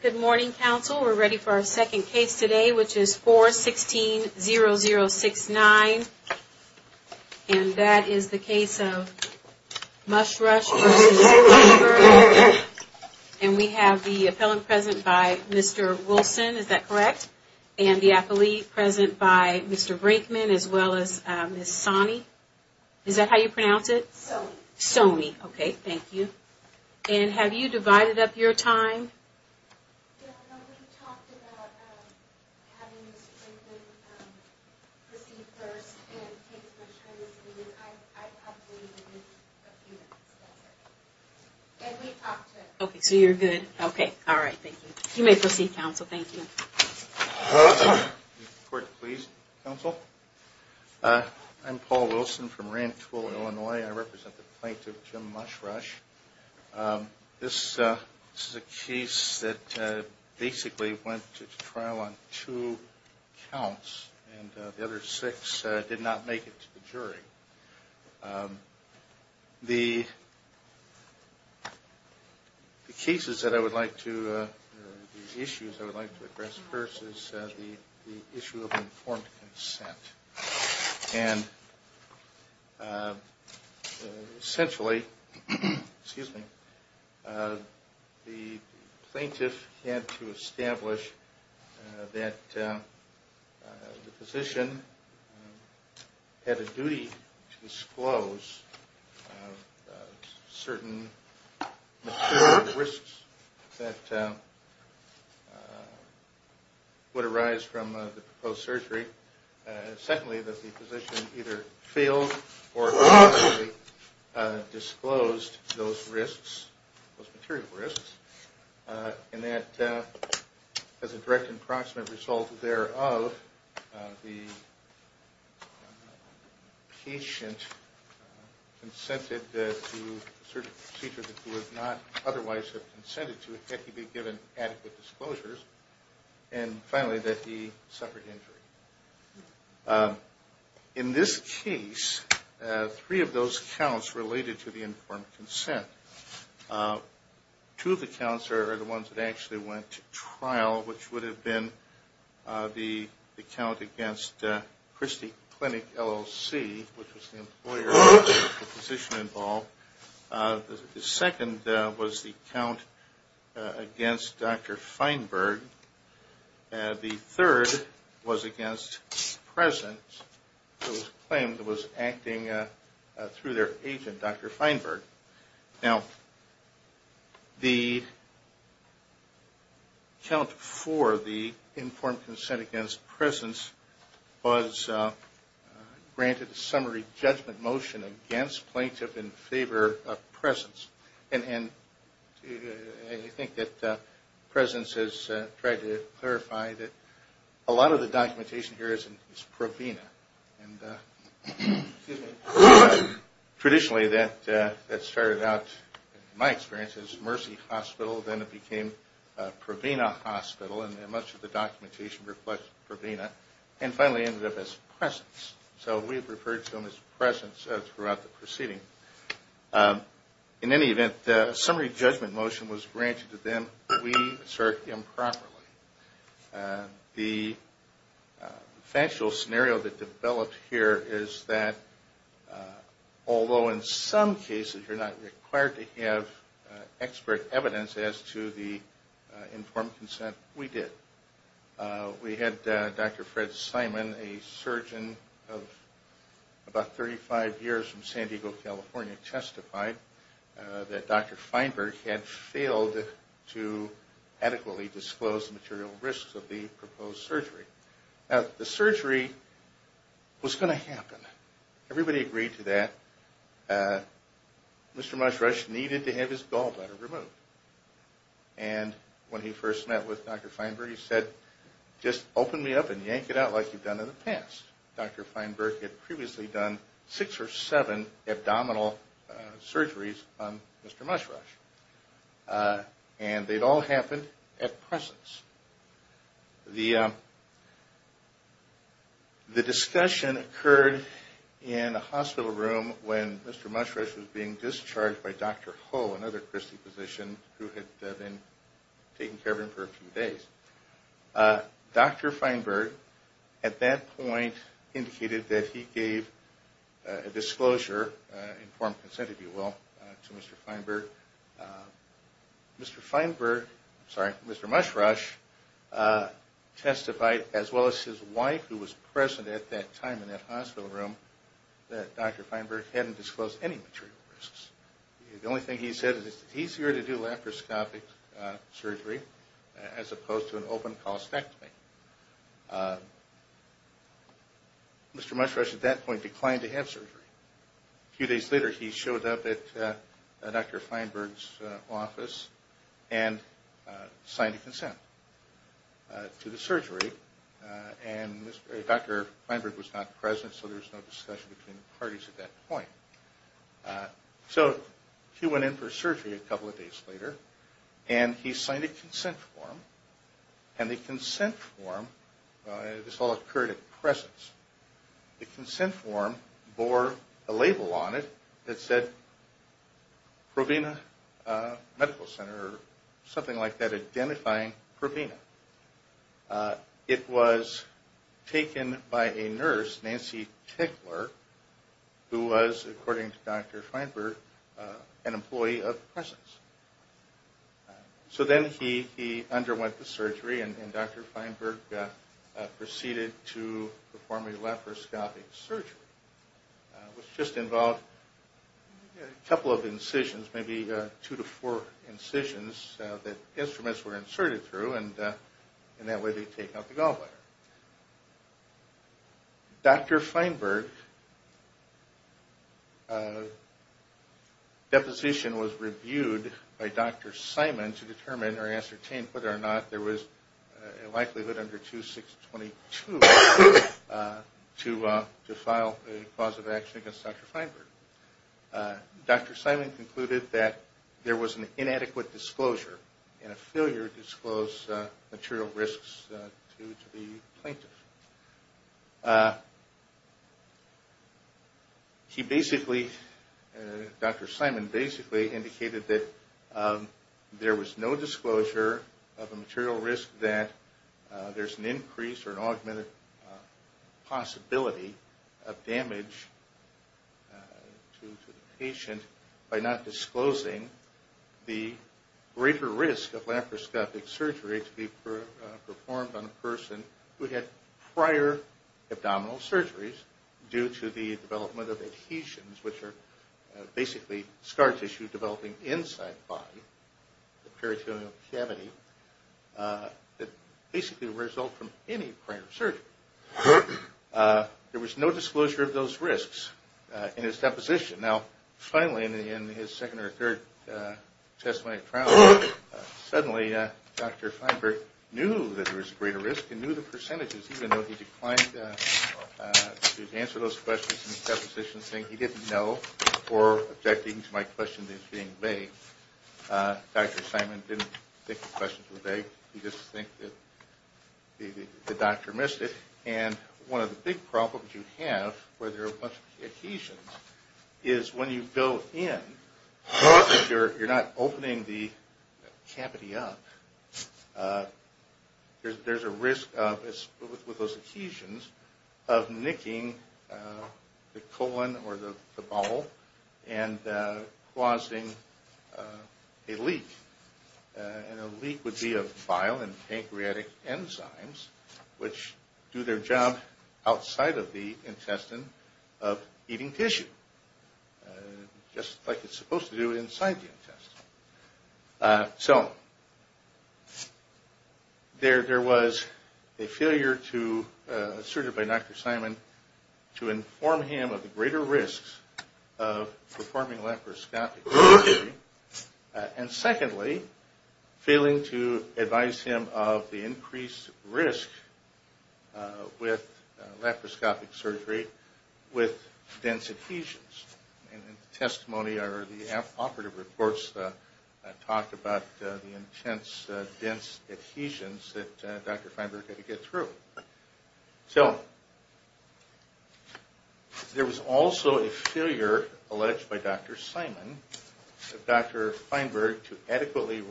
Good morning, counsel. We're ready for our second case today, which is 4-16-0069, and that is the case of Mushrush v. Feinberg. And we have the appellant present by Mr. Wilson, is that correct? And the appellee present by Mr. Brinkman as well as Ms. Sonny. Is that how you pronounce it? Sonny. Sonny, okay, thank you. And have you divided up your time? Yes, we talked about having Mr. Brinkman proceed first and take some time to speak, and I have waited a few minutes, that's right. And we've talked to him. Okay, so you're good. Okay, all right, thank you. You may proceed, counsel, thank you. Court, please. Counsel, I'm Paul Wilson from Rantoul, Illinois. I represent the plaintiff, Jim Mushrush. This is a case that basically went to trial on two counts, and the other six did not make it to the jury. The cases that I would like to, or the issues I would like to address first is the issue of informed consent. And essentially, the plaintiff had to establish that the physician had a duty to disclose certain risks that would arise from the proposed surgery. Secondly, that the physician either failed or disclosed those risks, and that as a direct and proximate result thereof, the patient consented to certain procedures that he would not otherwise have consented to had he been given adequate disclosures. And finally, that he suffered injury. In this case, three of those counts related to the counts are the ones that actually went to trial, which would have been the count against Christie Clinic, LLC, which was the employer of the physician involved. The second was the count against Dr. Feinberg. The third was against Presence, who was claimed to be acting through their agent, Dr. Feinberg. Now, the count for the informed consent against Presence was granted a summary judgment motion against plaintiff in favor of Presence. And I think that Presence has tried to clarify that a lot of the documentation here is Provena. Traditionally, that started out, in my experience, as Mercy Hospital. Then it became Provena Hospital, and much of the documentation reflects Provena. And finally, it ended up as Presence. So we have referred to him as Presence throughout the proceeding. In any event, a summary judgment motion was granted to him. We assert improperly. The factual scenario that developed here is that although in some cases you're not required to have expert evidence as to the informed consent, we did. We had Dr. Fred Simon, a surgeon of about 35 years from San Diego, California, testified that Dr. Feinberg had failed to adequately disclose the material risks of the proposed surgery. Now, the surgery was going to happen. Everybody agreed to that. Mr. Mushrush needed to have his gallbladder removed. And when he first met with Dr. Feinberg, he said, just open me up and yank it out like you've done in the past. Dr. Feinberg had previously done six or seven abdominal surgeries on Mr. Mushrush. And they'd all happened at Presence. The discussion occurred in a hospital room when Mr. Mushrush was being discharged by Dr. Ho, another Christie physician who had been taking care of him for a few days. Dr. Feinberg at that point indicated that he gave a disclosure, informed consent if you will, to Mr. Feinberg. Mr. Feinberg, sorry, Mr. Mushrush testified as well as his wife who was present at that time in that hospital room that Dr. Feinberg hadn't disclosed any material risks. The only thing he said is it's easier to do laparoscopic surgery as opposed to an open colostectomy. Mr. Mushrush at that point declined to have surgery. A few days later he showed up at Dr. Feinberg's office and signed a consent to the surgery. And Dr. Feinberg was not present so there was no discussion between the parties at that point. So he went in for surgery a couple of days later and he signed a consent form. This all occurred at presence. The consent form bore a label on it that said Provena Medical Center or something like that identifying Provena. It was taken by a nurse, Nancy Tickler, who was according to Dr. Feinberg an employee of presence. So then he underwent the surgery and Dr. Feinberg proceeded to perform a laparoscopic surgery which just involved a couple of incisions, maybe two to four incisions that instruments were inserted through and that way they take out the gallbladder. Dr. Feinberg's deposition was reviewed by Dr. Simon to determine or ascertain whether or not there was a likelihood under 2622 to file a cause of action against Dr. Feinberg. Dr. Simon did not disclose material risks to the plaintiff. He basically, Dr. Simon basically indicated that there was no disclosure of a material risk that there's an increase or an augmented possibility of damage to the patient by not disclosing the greater risk of laparoscopic surgery to be performed on a person who had prior abdominal surgeries due to the development of adhesions which are basically scar tissue developing inside the body, the peritoneal cavity, that basically result from any prior laparoscopic surgery. There was no disclosure of those risks in his deposition. Now finally in his second or third testimony at trial suddenly Dr. Feinberg knew that there was a greater risk and knew the percentages even though he declined to answer those questions in his deposition saying he didn't know or objecting to my question that's being made. Dr. Simon didn't think the questions were vague. He didn't think the doctor missed it. And one of the big problems you have where there are a bunch of adhesions is when you go in, you're not opening the cavity up. There's a risk with those adhesions of nicking the colon or the bowel and causing a leak. And a lot of times those adhesions are nucleophile and pancreatic enzymes which do their job outside of the intestine of eating tissue just like it's supposed to do inside the intestine. So there was a failure to, asserted by Dr. Simon, to inform him of the greater risks of performing laparoscopic surgery. And secondly, failing to advise him of the increased risk with laparoscopic surgery with dense adhesions. And in the testimony or the operative reports talked about the intense dense adhesions that Dr. Feinberg had to get through. So there was also a Dr. Simon, Dr. Feinberg, to adequately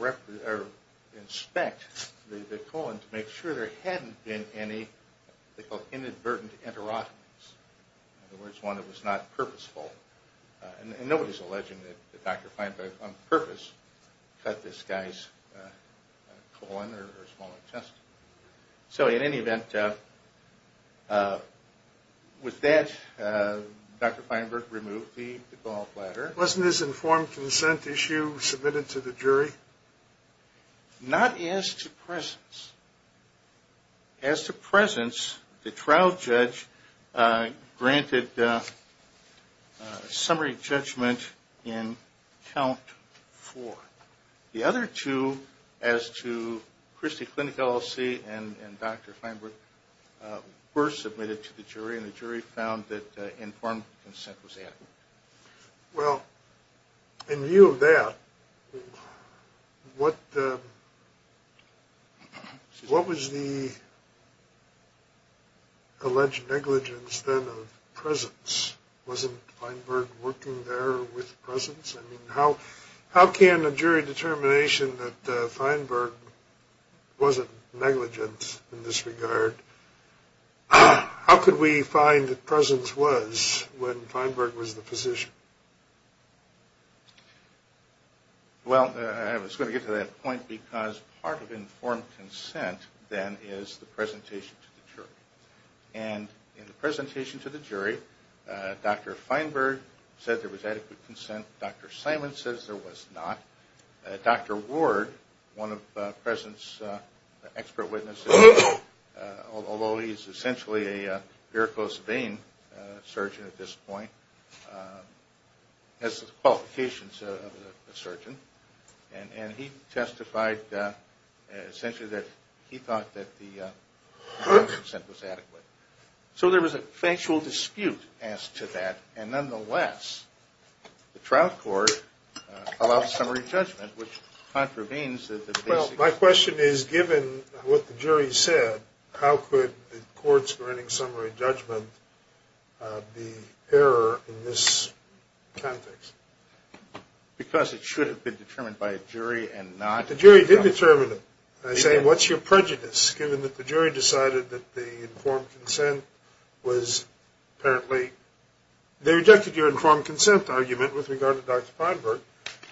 inspect the colon to make sure there hadn't been any inadvertent enterotomies. In other words, one that was not purposeful. And nobody's alleging that Dr. Feinberg on purpose cut this guy's colon or small intestine. So in any event, with that, Dr. Feinberg removed the gallbladder. Wasn't this informed consent issue submitted to the jury? Not as to presence. As to presence, the trial judge granted summary judgment in count four. The other two, as to Christie Clinic LLC and Dr. Well, in view of that, what was the alleged negligence then of presence? Wasn't Feinberg working there with presence? I mean, how can a jury Well, I was going to get to that point because part of informed consent then is the presentation to the jury. And in the presentation to the jury, Dr. Feinberg said there was adequate consent. Dr. Simon says there was not. Dr. Ward, one of presence expert witnesses, although he's essentially a has the qualifications of a surgeon, and he testified essentially that he thought that the informed consent was adequate. So there was a factual dispute as to that. And nonetheless, the trial court allowed summary judgment, which contravenes the basic My question is, given what the jury said, how could the courts granting summary judgment be error in this context? Because it should have been determined by a jury and not The jury did determine it. I say, what's your prejudice, given that the jury decided that the informed consent was apparently They rejected your informed consent argument with regard to Dr. Feinberg.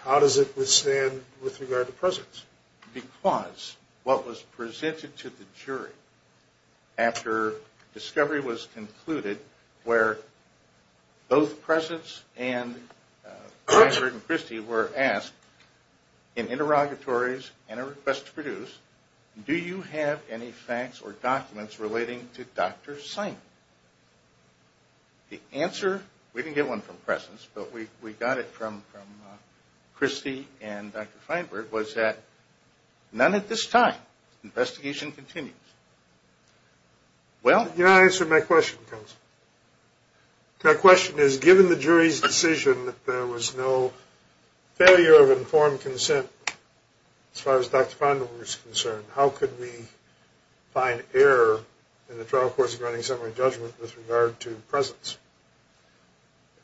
How does it withstand with regard to presence? Because what was presented to the jury after discovery was concluded where both presence and Feinberg and Christy were asked in interrogatories and a request to produce, do you have any facts or documents relating to Dr. Simon? The answer, we didn't get one from None at this time. Investigation continues. Well, You're not answering my question, counsel. My question is, given the jury's decision that there was no failure of informed consent, as far as Dr. Feinberg was concerned, how could we find error in the trial court's granting summary judgment with regard to presence?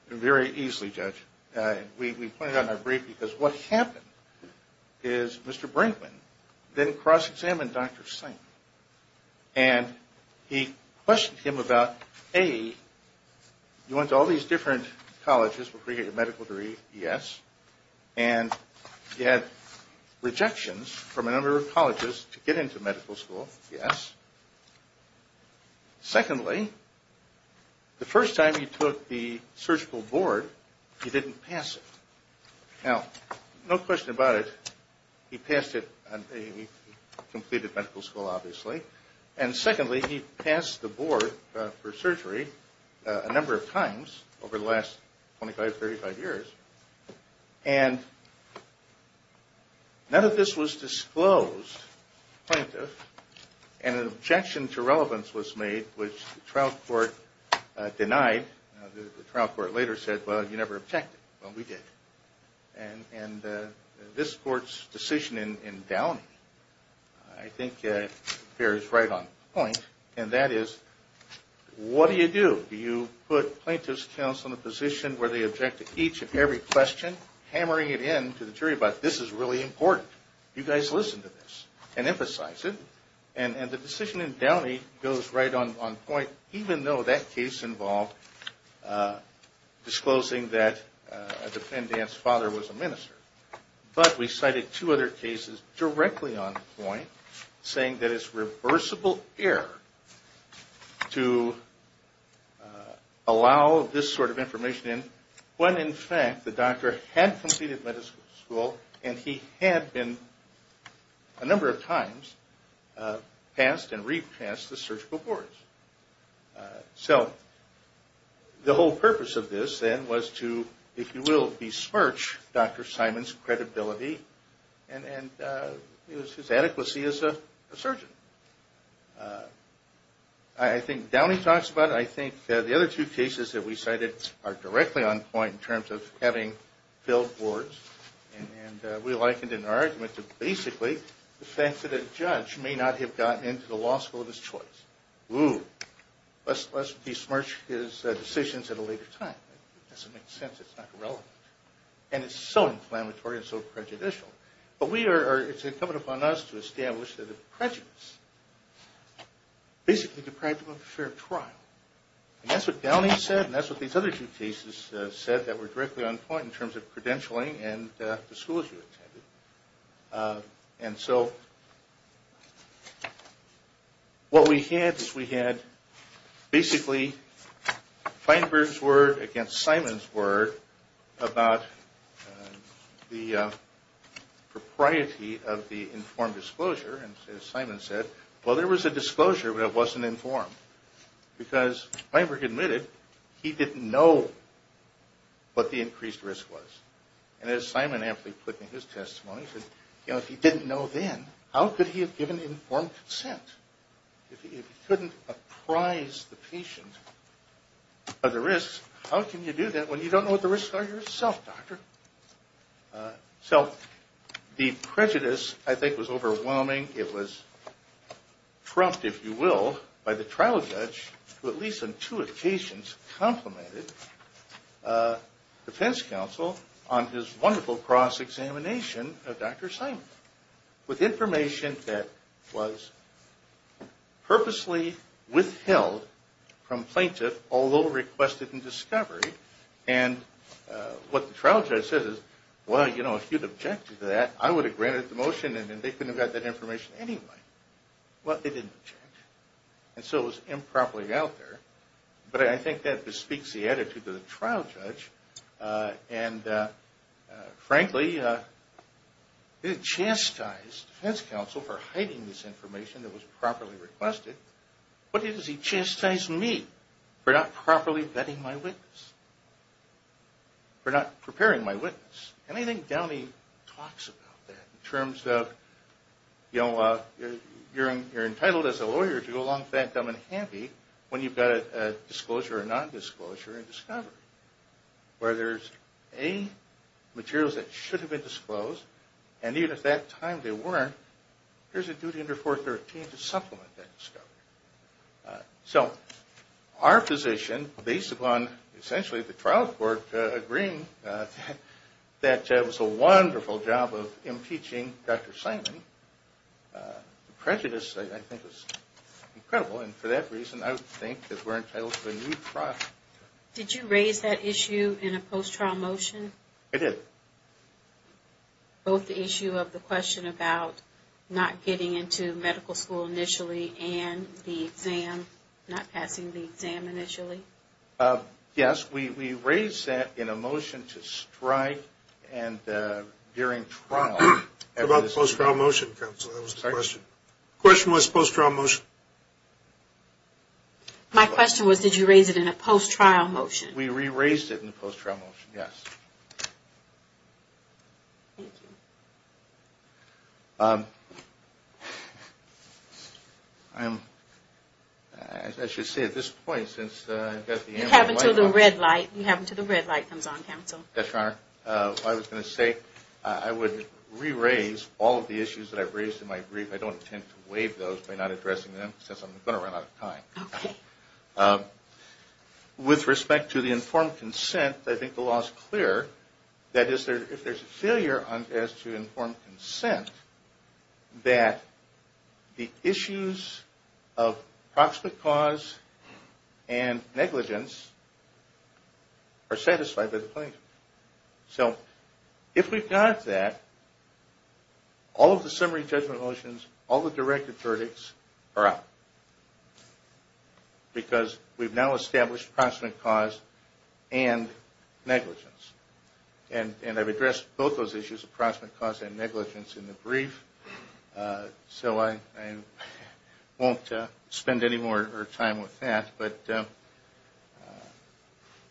Very easily, Judge. We pointed out in our brief because what happened is Mr. Brinkman then cross-examined Dr. Simon. And he questioned him about, A, you went to all these different colleges to get your medical degree, yes. And you had rejections from a number of colleges to get into medical school, yes. Secondly, the first time he took the surgical board, he didn't pass it. Now, no question about it, he passed it. He completed medical school, obviously. And secondly, he passed the board for surgery a number of times over the last 25, 35 years. And none of this was disclosed to the plaintiff. And an objection to relevance was made, which the trial court denied. The trial court later said, well, you never objected. Well, we did. And this court's decision in Downey, I think, bears right on point. And that is, what do you do? Do you put plaintiff's counsel in a position where they object to each and every question, hammering it in to the jury about, this is really important. You guys listen to this and emphasize it. And the decision in Downey goes right on point, even though that case involved disclosing that the defendant's father was a minister. But we cited two other cases directly on point, saying that it's reversible error to allow this sort of information in, when in fact the doctor had completed medical school and he had been a number of times passed and repassed the surgical boards. So the whole purpose of this then was to, if you will, besmirch Dr. Simon's credibility and his adequacy as a surgeon. I think Downey talks about it. I think the other two cases that we cited are directly on point in terms of having filled boards. And we likened it in our argument to basically the fact that a judge may not have gotten into the law school of his choice. Ooh, let's besmirch his decisions at a later time. It doesn't make sense. It's not relevant. And it's so inflammatory and so prejudicial. But it's incumbent upon us to establish that the prejudice basically deprived him of a fair trial. And that's what Downey said and that's what these other two cases said that were directly on point in terms of credentialing and the schools you attended. And so what we had is we had basically Feinberg's word against Simon's word about the propriety of the informed disclosure. And as Simon said, well, there was a disclosure, but it wasn't informed. Because Feinberg admitted he didn't know what the increased risk was. And as Simon aptly put in his testimony, he said, you know, if he didn't know then, how could he have given informed consent? If he couldn't apprise the patient of the risks, how can you do that when you don't know what the risks are yourself, doctor? So the prejudice, I think, was overwhelming. It was trumped, if you will, by the trial judge, who at least on two occasions complimented the defense counsel on his wonderful cross-examination of Dr. Simon. With information that was purposely withheld from plaintiff, although requested in discovery. And what the trial judge says is, well, you know, if you'd objected to that, I would have granted the motion and they couldn't have got that information anyway. Well, they didn't object. And so it was improperly out there. But I think that bespeaks the attitude of the trial judge. And frankly, he chastised the defense counsel for hiding this information that was properly requested. What does he chastise me for not properly vetting my witness? For not preparing my witness? And I think Downey talks about that in terms of, you know, you're entitled as a lawyer to go along with that dumb and handy when you've got a disclosure or non-disclosure in discovery. Where there's A, materials that should have been disclosed, and even at that time they weren't, there's a duty under 413 to supplement that discovery. So, our position, based upon essentially the trial court agreeing that it was a wonderful job of impeaching Dr. Simon. Prejudice, I think, is incredible. And for that reason, I would think that we're entitled to a new trial. Did you raise that issue in a post-trial motion? I did. Both the issue of the question about not getting into medical school initially and the exam, not passing the exam initially? Yes, we raised that in a motion to strike and during trial. What about the post-trial motion, counsel? That was the question. The question was post-trial motion. My question was, did you raise it in a post-trial motion? We re-raised it in a post-trial motion, yes. Thank you. I'm, I should say at this point since I've got the ambulance. You have until the red light, you have until the red light comes on, counsel. I was going to say I would re-raise all of the issues that I've raised in my brief. I don't intend to waive those by not addressing them since I'm going to run out of time. Okay. So if we've got that, all of the summary judgment motions, all the directed verdicts are out. Because we've now established approximate cause and negligence. And I've addressed both those issues, approximate cause and negligence in the brief. So I won't spend any more time with that. But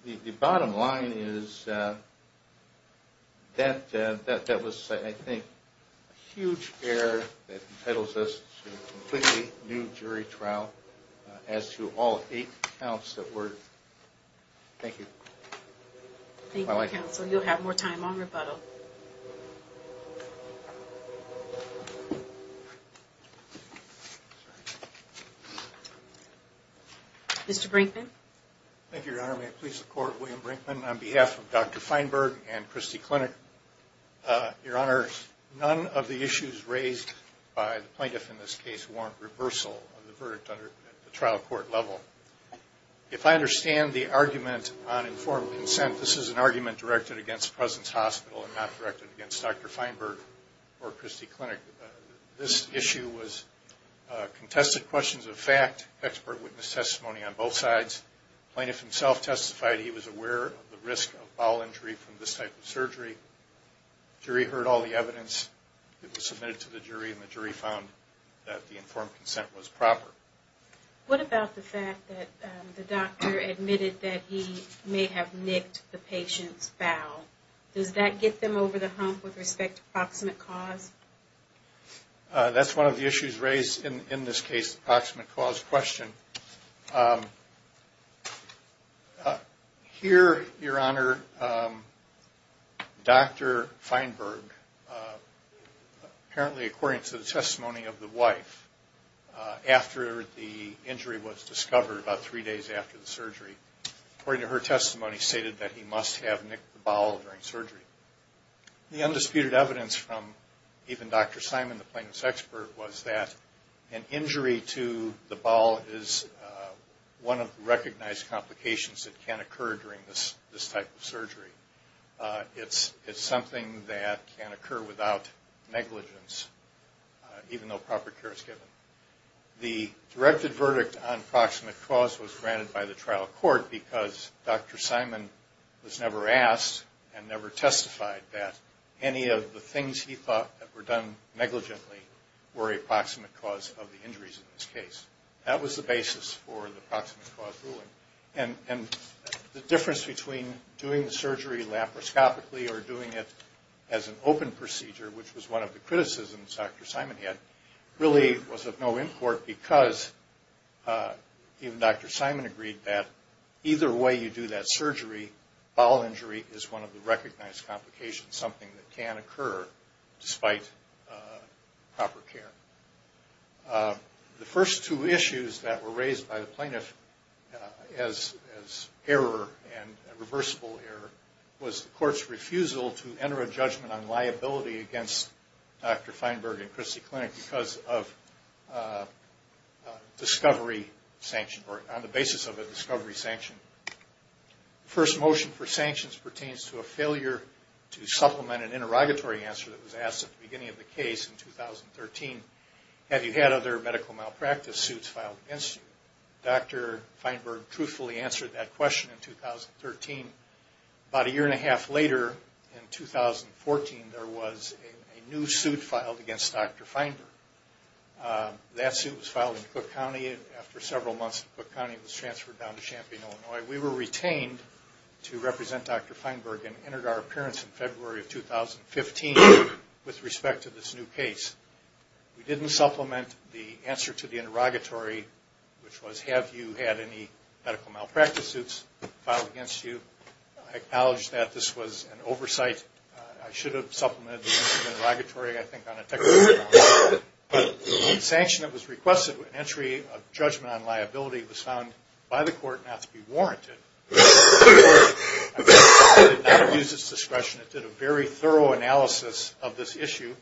the bottom line is that was, I think, a huge error that entitles us to a completely new jury trial as to all eight counts that were. Thank you. Thank you, counsel. You'll have more time on rebuttal. Mr. Brinkman. Thank you, Your Honor. May it please the Court, William Brinkman on behalf of Dr. Feinberg and Christie Clinic. Your Honor, none of the issues raised by the plaintiff in this case warrant reversal of the verdict at the trial court level. If I understand the argument on informed consent, this is an argument directed against Presence Hospital and not directed against Dr. Feinberg or Christie Clinic. This issue was contested questions of fact, expert witness testimony on both sides. The plaintiff himself testified he was aware of the risk of bowel injury from this type of surgery. The jury heard all the evidence that was submitted to the jury, and the jury found that the informed consent was proper. What about the fact that the doctor admitted that he may have nicked the patient's bowel? Does that get them over the hump with respect to proximate cause? That's one of the issues raised in this case, the proximate cause question. Here, Your Honor, Dr. Feinberg, apparently according to the testimony of the wife, after the injury was discovered about three days after the surgery, according to her testimony stated that he must have nicked the bowel during surgery. The undisputed evidence from even Dr. Simon, the plaintiff's expert, was that an injury to the bowel is one of the recognized complications that can occur during this type of surgery. It's something that can occur without negligence, even though proper care is given. The directed verdict on proximate cause was granted by the trial court because Dr. Simon was never asked and never testified that any of the things he thought that were done negligently were a proximate cause of the injuries in this case. That was the basis for the proximate cause ruling. And the difference between doing the surgery laparoscopically or doing it as an open procedure, which was one of the criticisms Dr. Simon had, really was of no import, because even Dr. Simon agreed that either way you do that surgery, bowel injury is one of the recognized complications, something that can occur despite proper care. The first two issues that were raised by the plaintiff as error and reversible error was the court's refusal to enter a judgment on liability against Dr. Feinberg and Christie Clinic because of discovery sanction, or on the basis of a discovery sanction. The first motion for sanctions pertains to a failure to supplement an interrogatory answer that was asked at the beginning of the case in 2013. Have you had other medical malpractice suits filed against you? Dr. Feinberg truthfully answered that question in 2013. About a year and a half later, in 2014, there was a new suit filed against Dr. Feinberg. That suit was filed in Cook County. After several months, Cook County was transferred down to Champaign, Illinois. We were retained to represent Dr. Feinberg and entered our appearance in February of 2015 with respect to this new case. We didn't supplement the answer to the interrogatory, which was have you had any medical malpractice suits filed against you. I acknowledge that this was an oversight. I should have supplemented the interrogatory, I think, on a technical note. But the sanction that was requested with entry of judgment on liability was found by the court not to be warranted. The court did not use its discretion. It did a very thorough analysis of this issue.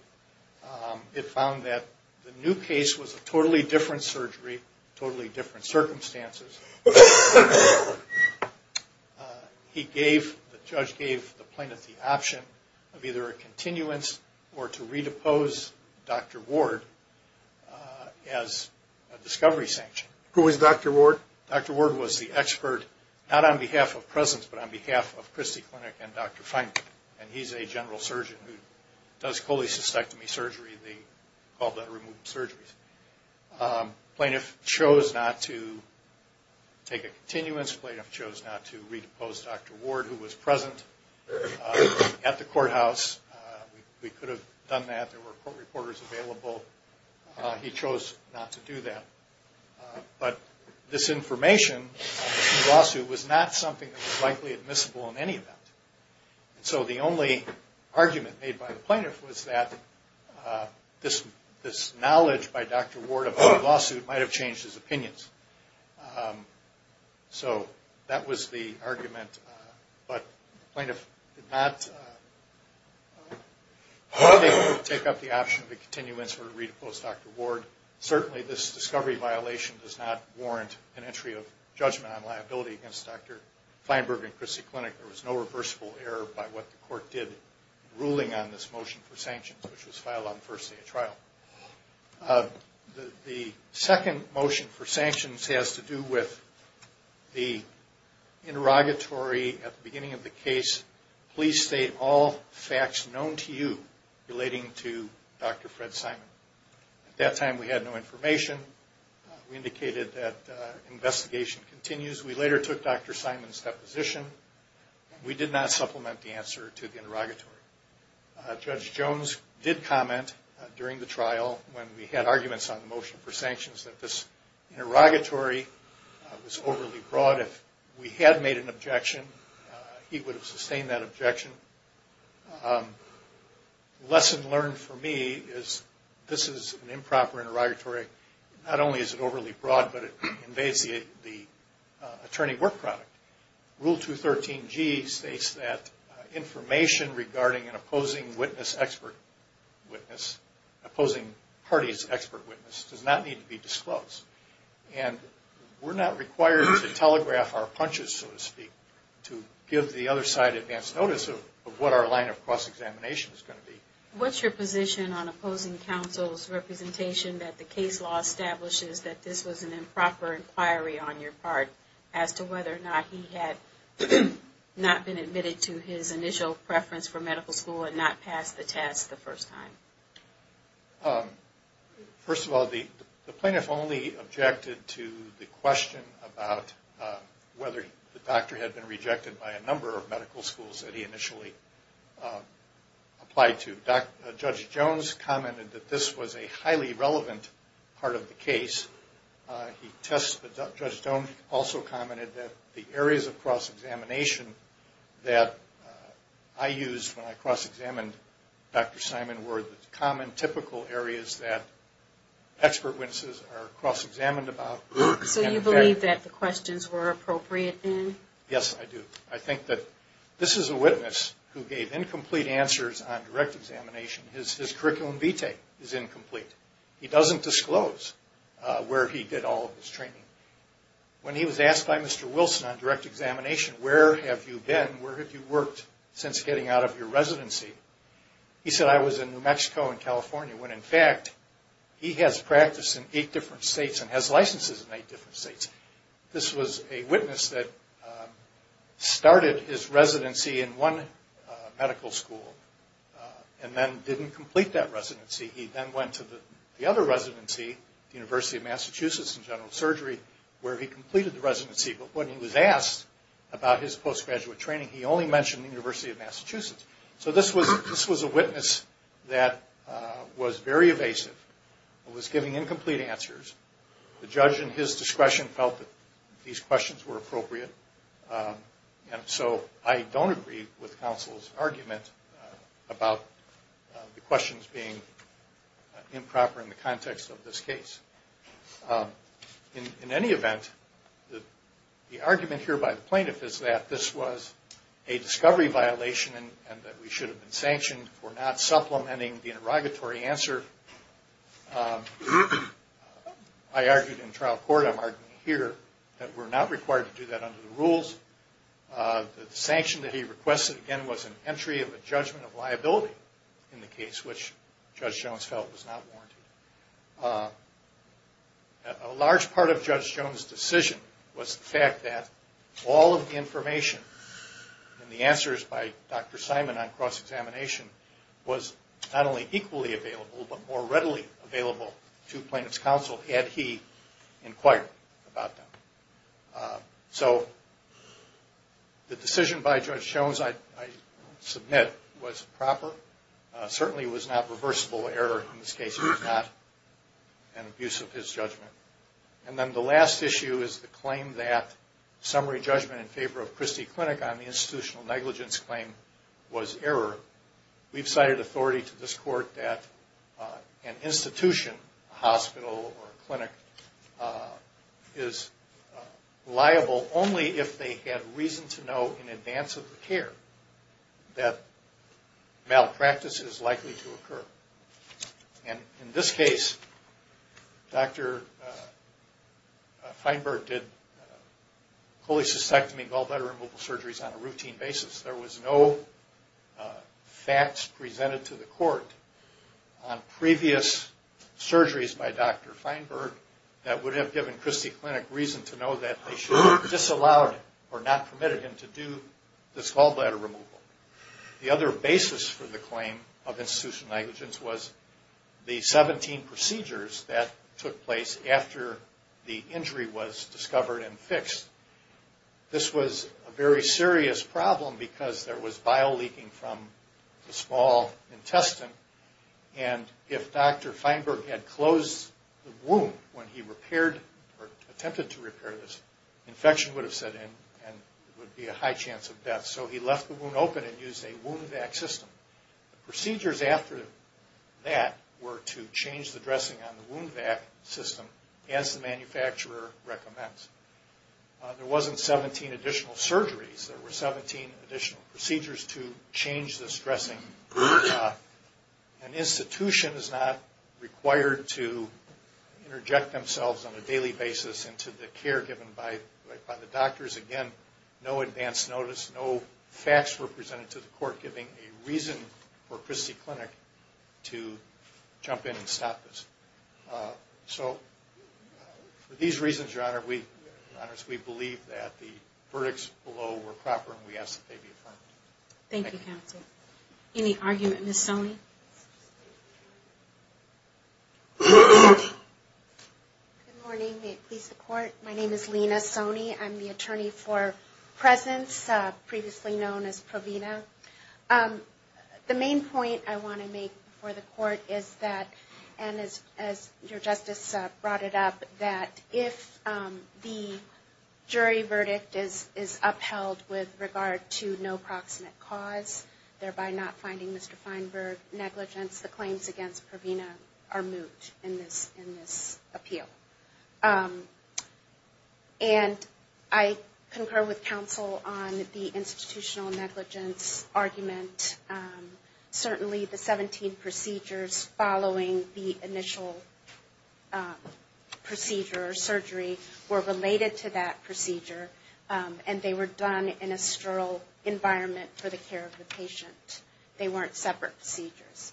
It found that the new case was a totally different surgery, totally different circumstances. The judge gave the plaintiff the option of either a continuance or to re-depose Dr. Ward as a discovery sanction. Who is Dr. Ward? Dr. Ward was the expert, not on behalf of presence, but on behalf of Christie Clinic and Dr. Feinberg. And he's a general surgeon who does cholecystectomy surgery. They call that removed surgeries. Plaintiff chose not to take a continuance. Plaintiff chose not to re-depose Dr. Ward, who was present at the courthouse. We could have done that. There were court reporters available. He chose not to do that. But this information in the lawsuit was not something that was likely admissible in any event. So the only argument made by the plaintiff was that this knowledge by Dr. Ward about the lawsuit might have changed his opinions. So that was the argument. But the plaintiff did not take up the option of a continuance or re-depose Dr. Ward. Certainly this discovery violation does not warrant an entry of judgment on liability against Dr. Feinberg and Christie Clinic. There was no reversible error by what the court did ruling on this motion for sanctions, which was filed on the first day of trial. The second motion for sanctions has to do with the interrogatory at the beginning of the case, please state all facts known to you relating to Dr. Fred Simon. At that time we had no information. We indicated that investigation continues. We later took Dr. Simon's deposition. We did not supplement the answer to the interrogatory. Judge Jones did comment during the trial when we had arguments on the motion for sanctions that this interrogatory was overly broad. If we had made an objection, he would have sustained that objection. Lesson learned for me is this is an improper interrogatory. Not only is it overly broad, but it invades the attorney work product. Rule 213G states that information regarding an opposing witness expert witness, opposing party's expert witness, does not need to be disclosed. We're not required to telegraph our punches, so to speak, to give the other side advance notice of what our line of cross-examination is going to be. What's your position on opposing counsel's representation that the case law establishes that this was an improper inquiry on your part as to whether or not he had not been admitted to his initial preference for medical school and not passed the test the first time? First of all, the plaintiff only objected to the question about whether the doctor had been rejected by a number of medical schools that he initially applied to. Judge Jones commented that this was a highly relevant part of the case. Judge Jones also commented that the areas of cross-examination that I used when I cross-examined Dr. Simon were the common typical areas that expert witnesses are cross-examined about. So you believe that the questions were appropriate then? Yes, I do. I think that this is a witness who gave incomplete answers on direct examination. His curriculum vitae is incomplete. He doesn't disclose where he did all of his training. When he was asked by Mr. Wilson on direct examination, where have you been, where have you worked since getting out of your residency? He said, I was in New Mexico and California, when in fact he has practiced in eight different states and has licenses in eight different states. This was a witness that started his residency in one medical school and then didn't complete that residency. He then went to the other residency, the University of Massachusetts in general surgery, where he completed the residency. But when he was asked about his postgraduate training, he only mentioned the University of Massachusetts. So this was a witness that was very evasive and was giving incomplete answers. The judge in his discretion felt that these questions were appropriate. And so I don't agree with counsel's argument about the questions being improper in the context of this case. In any event, the argument here by the plaintiff is that this was a discovery violation and that we should have been sanctioned for not supplementing the interrogatory answer. I argued in trial court, I'm arguing here, that we're not required to do that under the rules. The sanction that he requested, again, was an entry of a judgment of liability in the case, which Judge Jones felt was not warranted. A large part of Judge Jones' decision was the fact that all of the information in the answers by Dr. Simon on cross-examination was not only equally available, but more readily available to plaintiff's counsel had he inquired about them. So the decision by Judge Jones, I submit, was proper. Certainly it was not reversible error in this case. It was not an abuse of his judgment. And then the last issue is the claim that summary judgment in favor of Christie Clinic on the institutional negligence claim was error. We've cited authority to this court that an institution, a hospital or a clinic, is liable only if they had reason to know in advance of the care that malpractice is likely to occur. And in this case, Dr. Feinberg did cholecystectomy gallbladder removal surgeries on a routine basis. There was no facts presented to the court on previous surgeries by Dr. Feinberg that would have given Christie Clinic reason to know that they should have disallowed or not permitted him to do this gallbladder removal. The other basis for the claim of institutional negligence was the 17 procedures that took place after the injury was discovered and fixed. This was a very serious problem because there was bio-leaking from the small intestine. And if Dr. Feinberg had closed the wound when he repaired or attempted to repair this, infection would have set in and there would be a high chance of death. So he left the wound open and used a wound vac system. The procedures after that were to change the dressing on the wound vac system as the manufacturer recommends. There wasn't 17 additional surgeries. There were 17 additional procedures to change this dressing. An institution is not required to interject themselves on a daily basis into the care given by the doctors. Again, no advance notice, no facts were presented to the court giving a reason for Christie Clinic to jump in and stop this. So for these reasons, Your Honor, we believe that the verdicts below were proper and we ask that they be affirmed. Thank you, counsel. Any argument, Ms. Sone? Good morning. May it please the Court. My name is Lena Sone. I'm the attorney for presence, previously known as Provena. The main point I want to make before the Court is that, and as Your Justice brought it up, that if the jury verdict is upheld with regard to no proximate cause, thereby not finding Mr. Feinberg negligence, the claims against Provena are moved in this appeal. And I concur with counsel on the institutional negligence argument. Certainly the 17 procedures following the initial procedure or surgery were related to that procedure and they were done in a sterile environment for the care of the patient. They weren't separate procedures.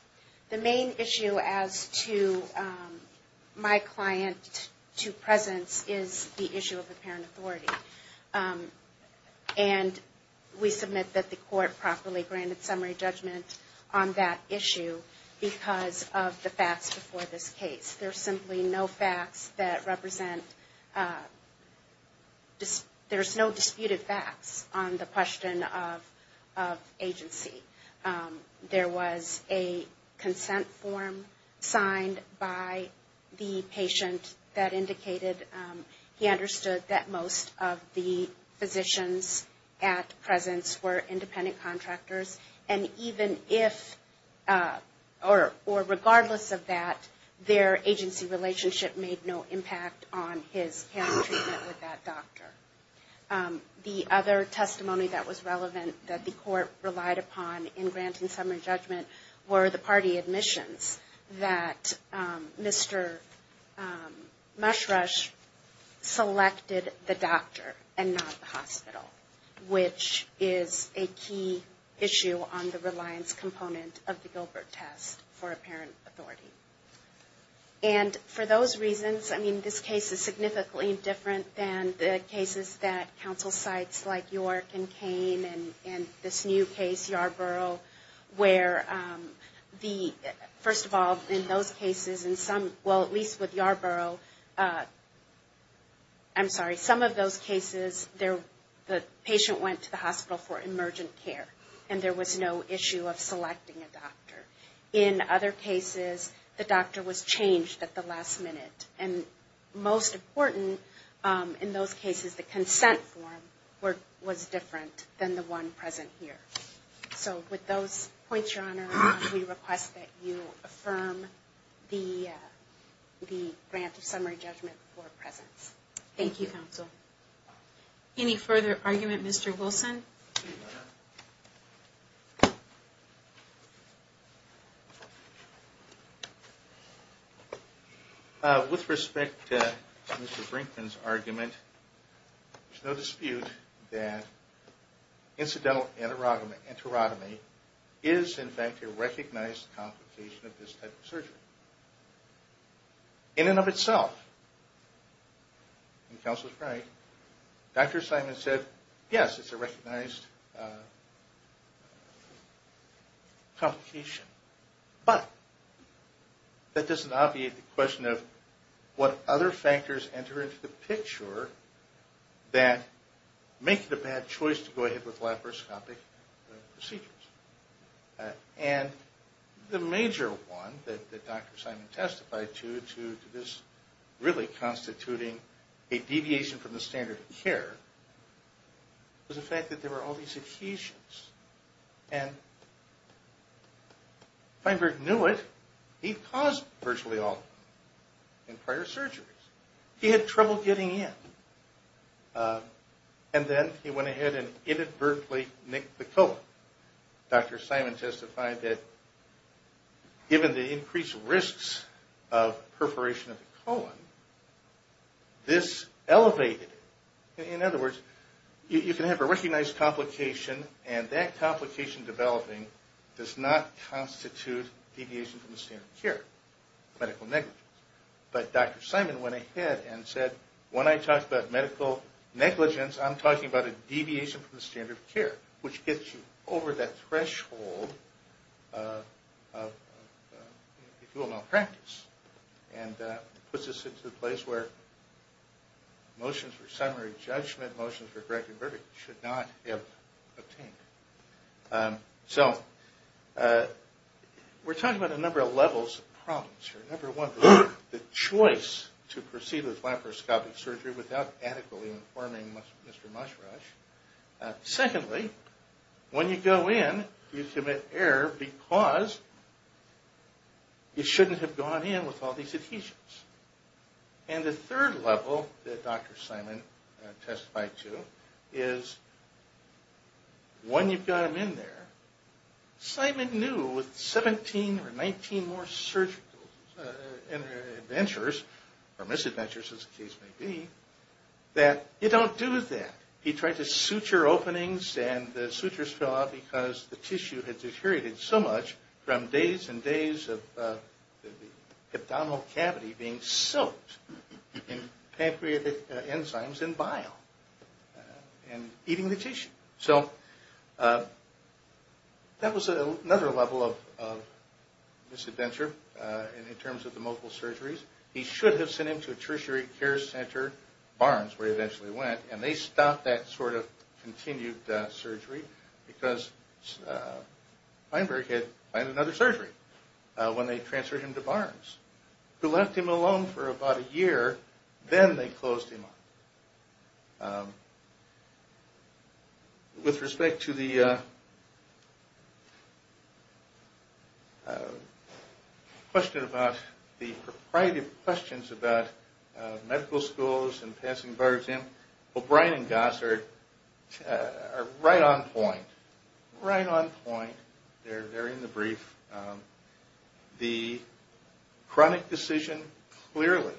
The main issue as to my client to presence is the issue of apparent authority. And we submit that the Court properly granted summary judgment on that issue because of the facts before this case. There's simply no facts that represent – there's no disputed facts on the question of agency. There was a consent form signed by the patient that indicated he understood that most of the physicians at presence were independent contractors. And even if – or regardless of that, their agency relationship made no impact on his care and treatment with that doctor. The other testimony that was relevant that the Court relied upon in granting summary judgment were the party admissions that Mr. Mushrush selected the doctor and not the hospital, which is a key issue on the reliance component of the Gilbert test for apparent authority. And for those reasons, I mean, this case is significantly different than the cases that council sites like York and Kane and this new case, Yarborough, where the – first of all, in those cases, in some – well, at least with Yarborough, I'm sorry, some of those cases, the patient went to the hospital for emergent care and there was no issue of selecting a doctor. In other cases, the doctor was changed at the last minute. And most important, in those cases, the consent form was different than the one present here. So with those points, Your Honor, we request that you affirm the grant of summary judgment for presence. Thank you, counsel. Any further argument, Mr. Wilson? With respect to Mr. Brinkman's argument, there's no dispute that incidental enterotomy is, in fact, a recognized complication of this type of surgery. In and of itself, and counsel is right, Dr. Simon said, yes, it's a recognized complication. But that doesn't obviate the question of what other factors enter into the picture that make it a bad choice to go ahead with laparoscopic procedures. And the major one that Dr. Simon testified to, to this really constituting a deviation from the standard of care, was the fact that there were all these adhesions. And Feinberg knew it. He'd caused virtually all of them in prior surgeries. He had trouble getting in. And then he went ahead and inadvertently nicked the colon. Dr. Simon testified that given the increased risks of perforation of the colon, this elevated it. In other words, you can have a recognized complication, and that complication developing does not constitute deviation from the standard of care, medical negligence. But Dr. Simon went ahead and said, when I talk about medical negligence, I'm talking about a deviation from the standard of care, which gets you over that threshold of, if you will, malpractice. And puts us into a place where motions for summary judgment, motions for corrective verdict, should not be obtained. So we're talking about a number of levels of problems here. Number one, the choice to proceed with laparoscopic surgery without adequately informing Mr. Mushrush. Secondly, when you go in, you commit error because you shouldn't have gone in with all these adhesions. And the third level that Dr. Simon testified to is, when you've got him in there, Simon knew with 17 or 19 more surgical adventures, or misadventures as the case may be, that you don't do that. He tried to suture openings, and the sutures fell out because the tissue had deteriorated so much from days and days of the abdominal cavity being soaked in pancreatic enzymes and bile and eating the tissue. So that was another level of misadventure in terms of the multiple surgeries. He should have sent him to a tertiary care center, Barnes, where he eventually went. And they stopped that sort of continued surgery because Feinberg had another surgery when they transferred him to Barnes, who left him alone for about a year. Then they closed him up. With respect to the question about the propriety of questions about medical schools and passing bars in, O'Brien and Goss are right on point. Right on point. They're in the brief. The chronic decision clearly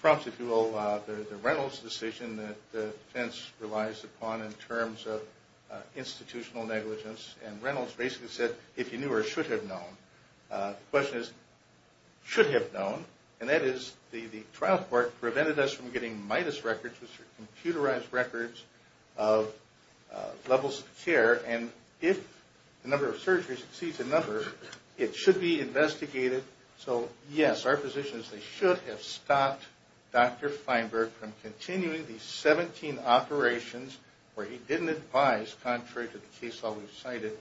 prompts, if you will, the Reynolds decision that defense relies upon in terms of institutional negligence. And Reynolds basically said, if you knew or should have known. The question is, should have known. And that is, the trial court prevented us from getting MIDUS records, which are computerized records of levels of care. And if the number of surgeries exceeds the number, it should be investigated. So, yes, our position is they should have stopped Dr. Feinberg from continuing these 17 operations where he didn't advise, contrary to the case law we've cited,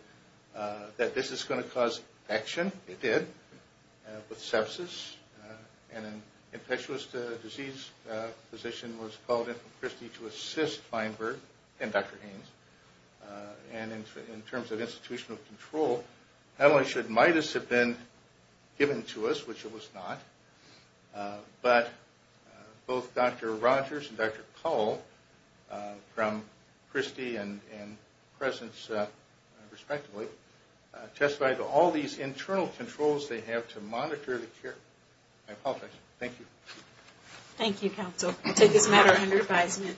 that this is going to cause infection. It did, with sepsis. And an infectious disease physician was called in from Christie to assist Feinberg and Dr. Haynes. And in terms of institutional control, not only should MIDUS have been given to us, which it was not, but both Dr. Rogers and Dr. Cull from Christie and Presence, respectively, testified to all these internal controls they have to monitor I apologize. Thank you. Thank you, counsel. I take this matter under advisement.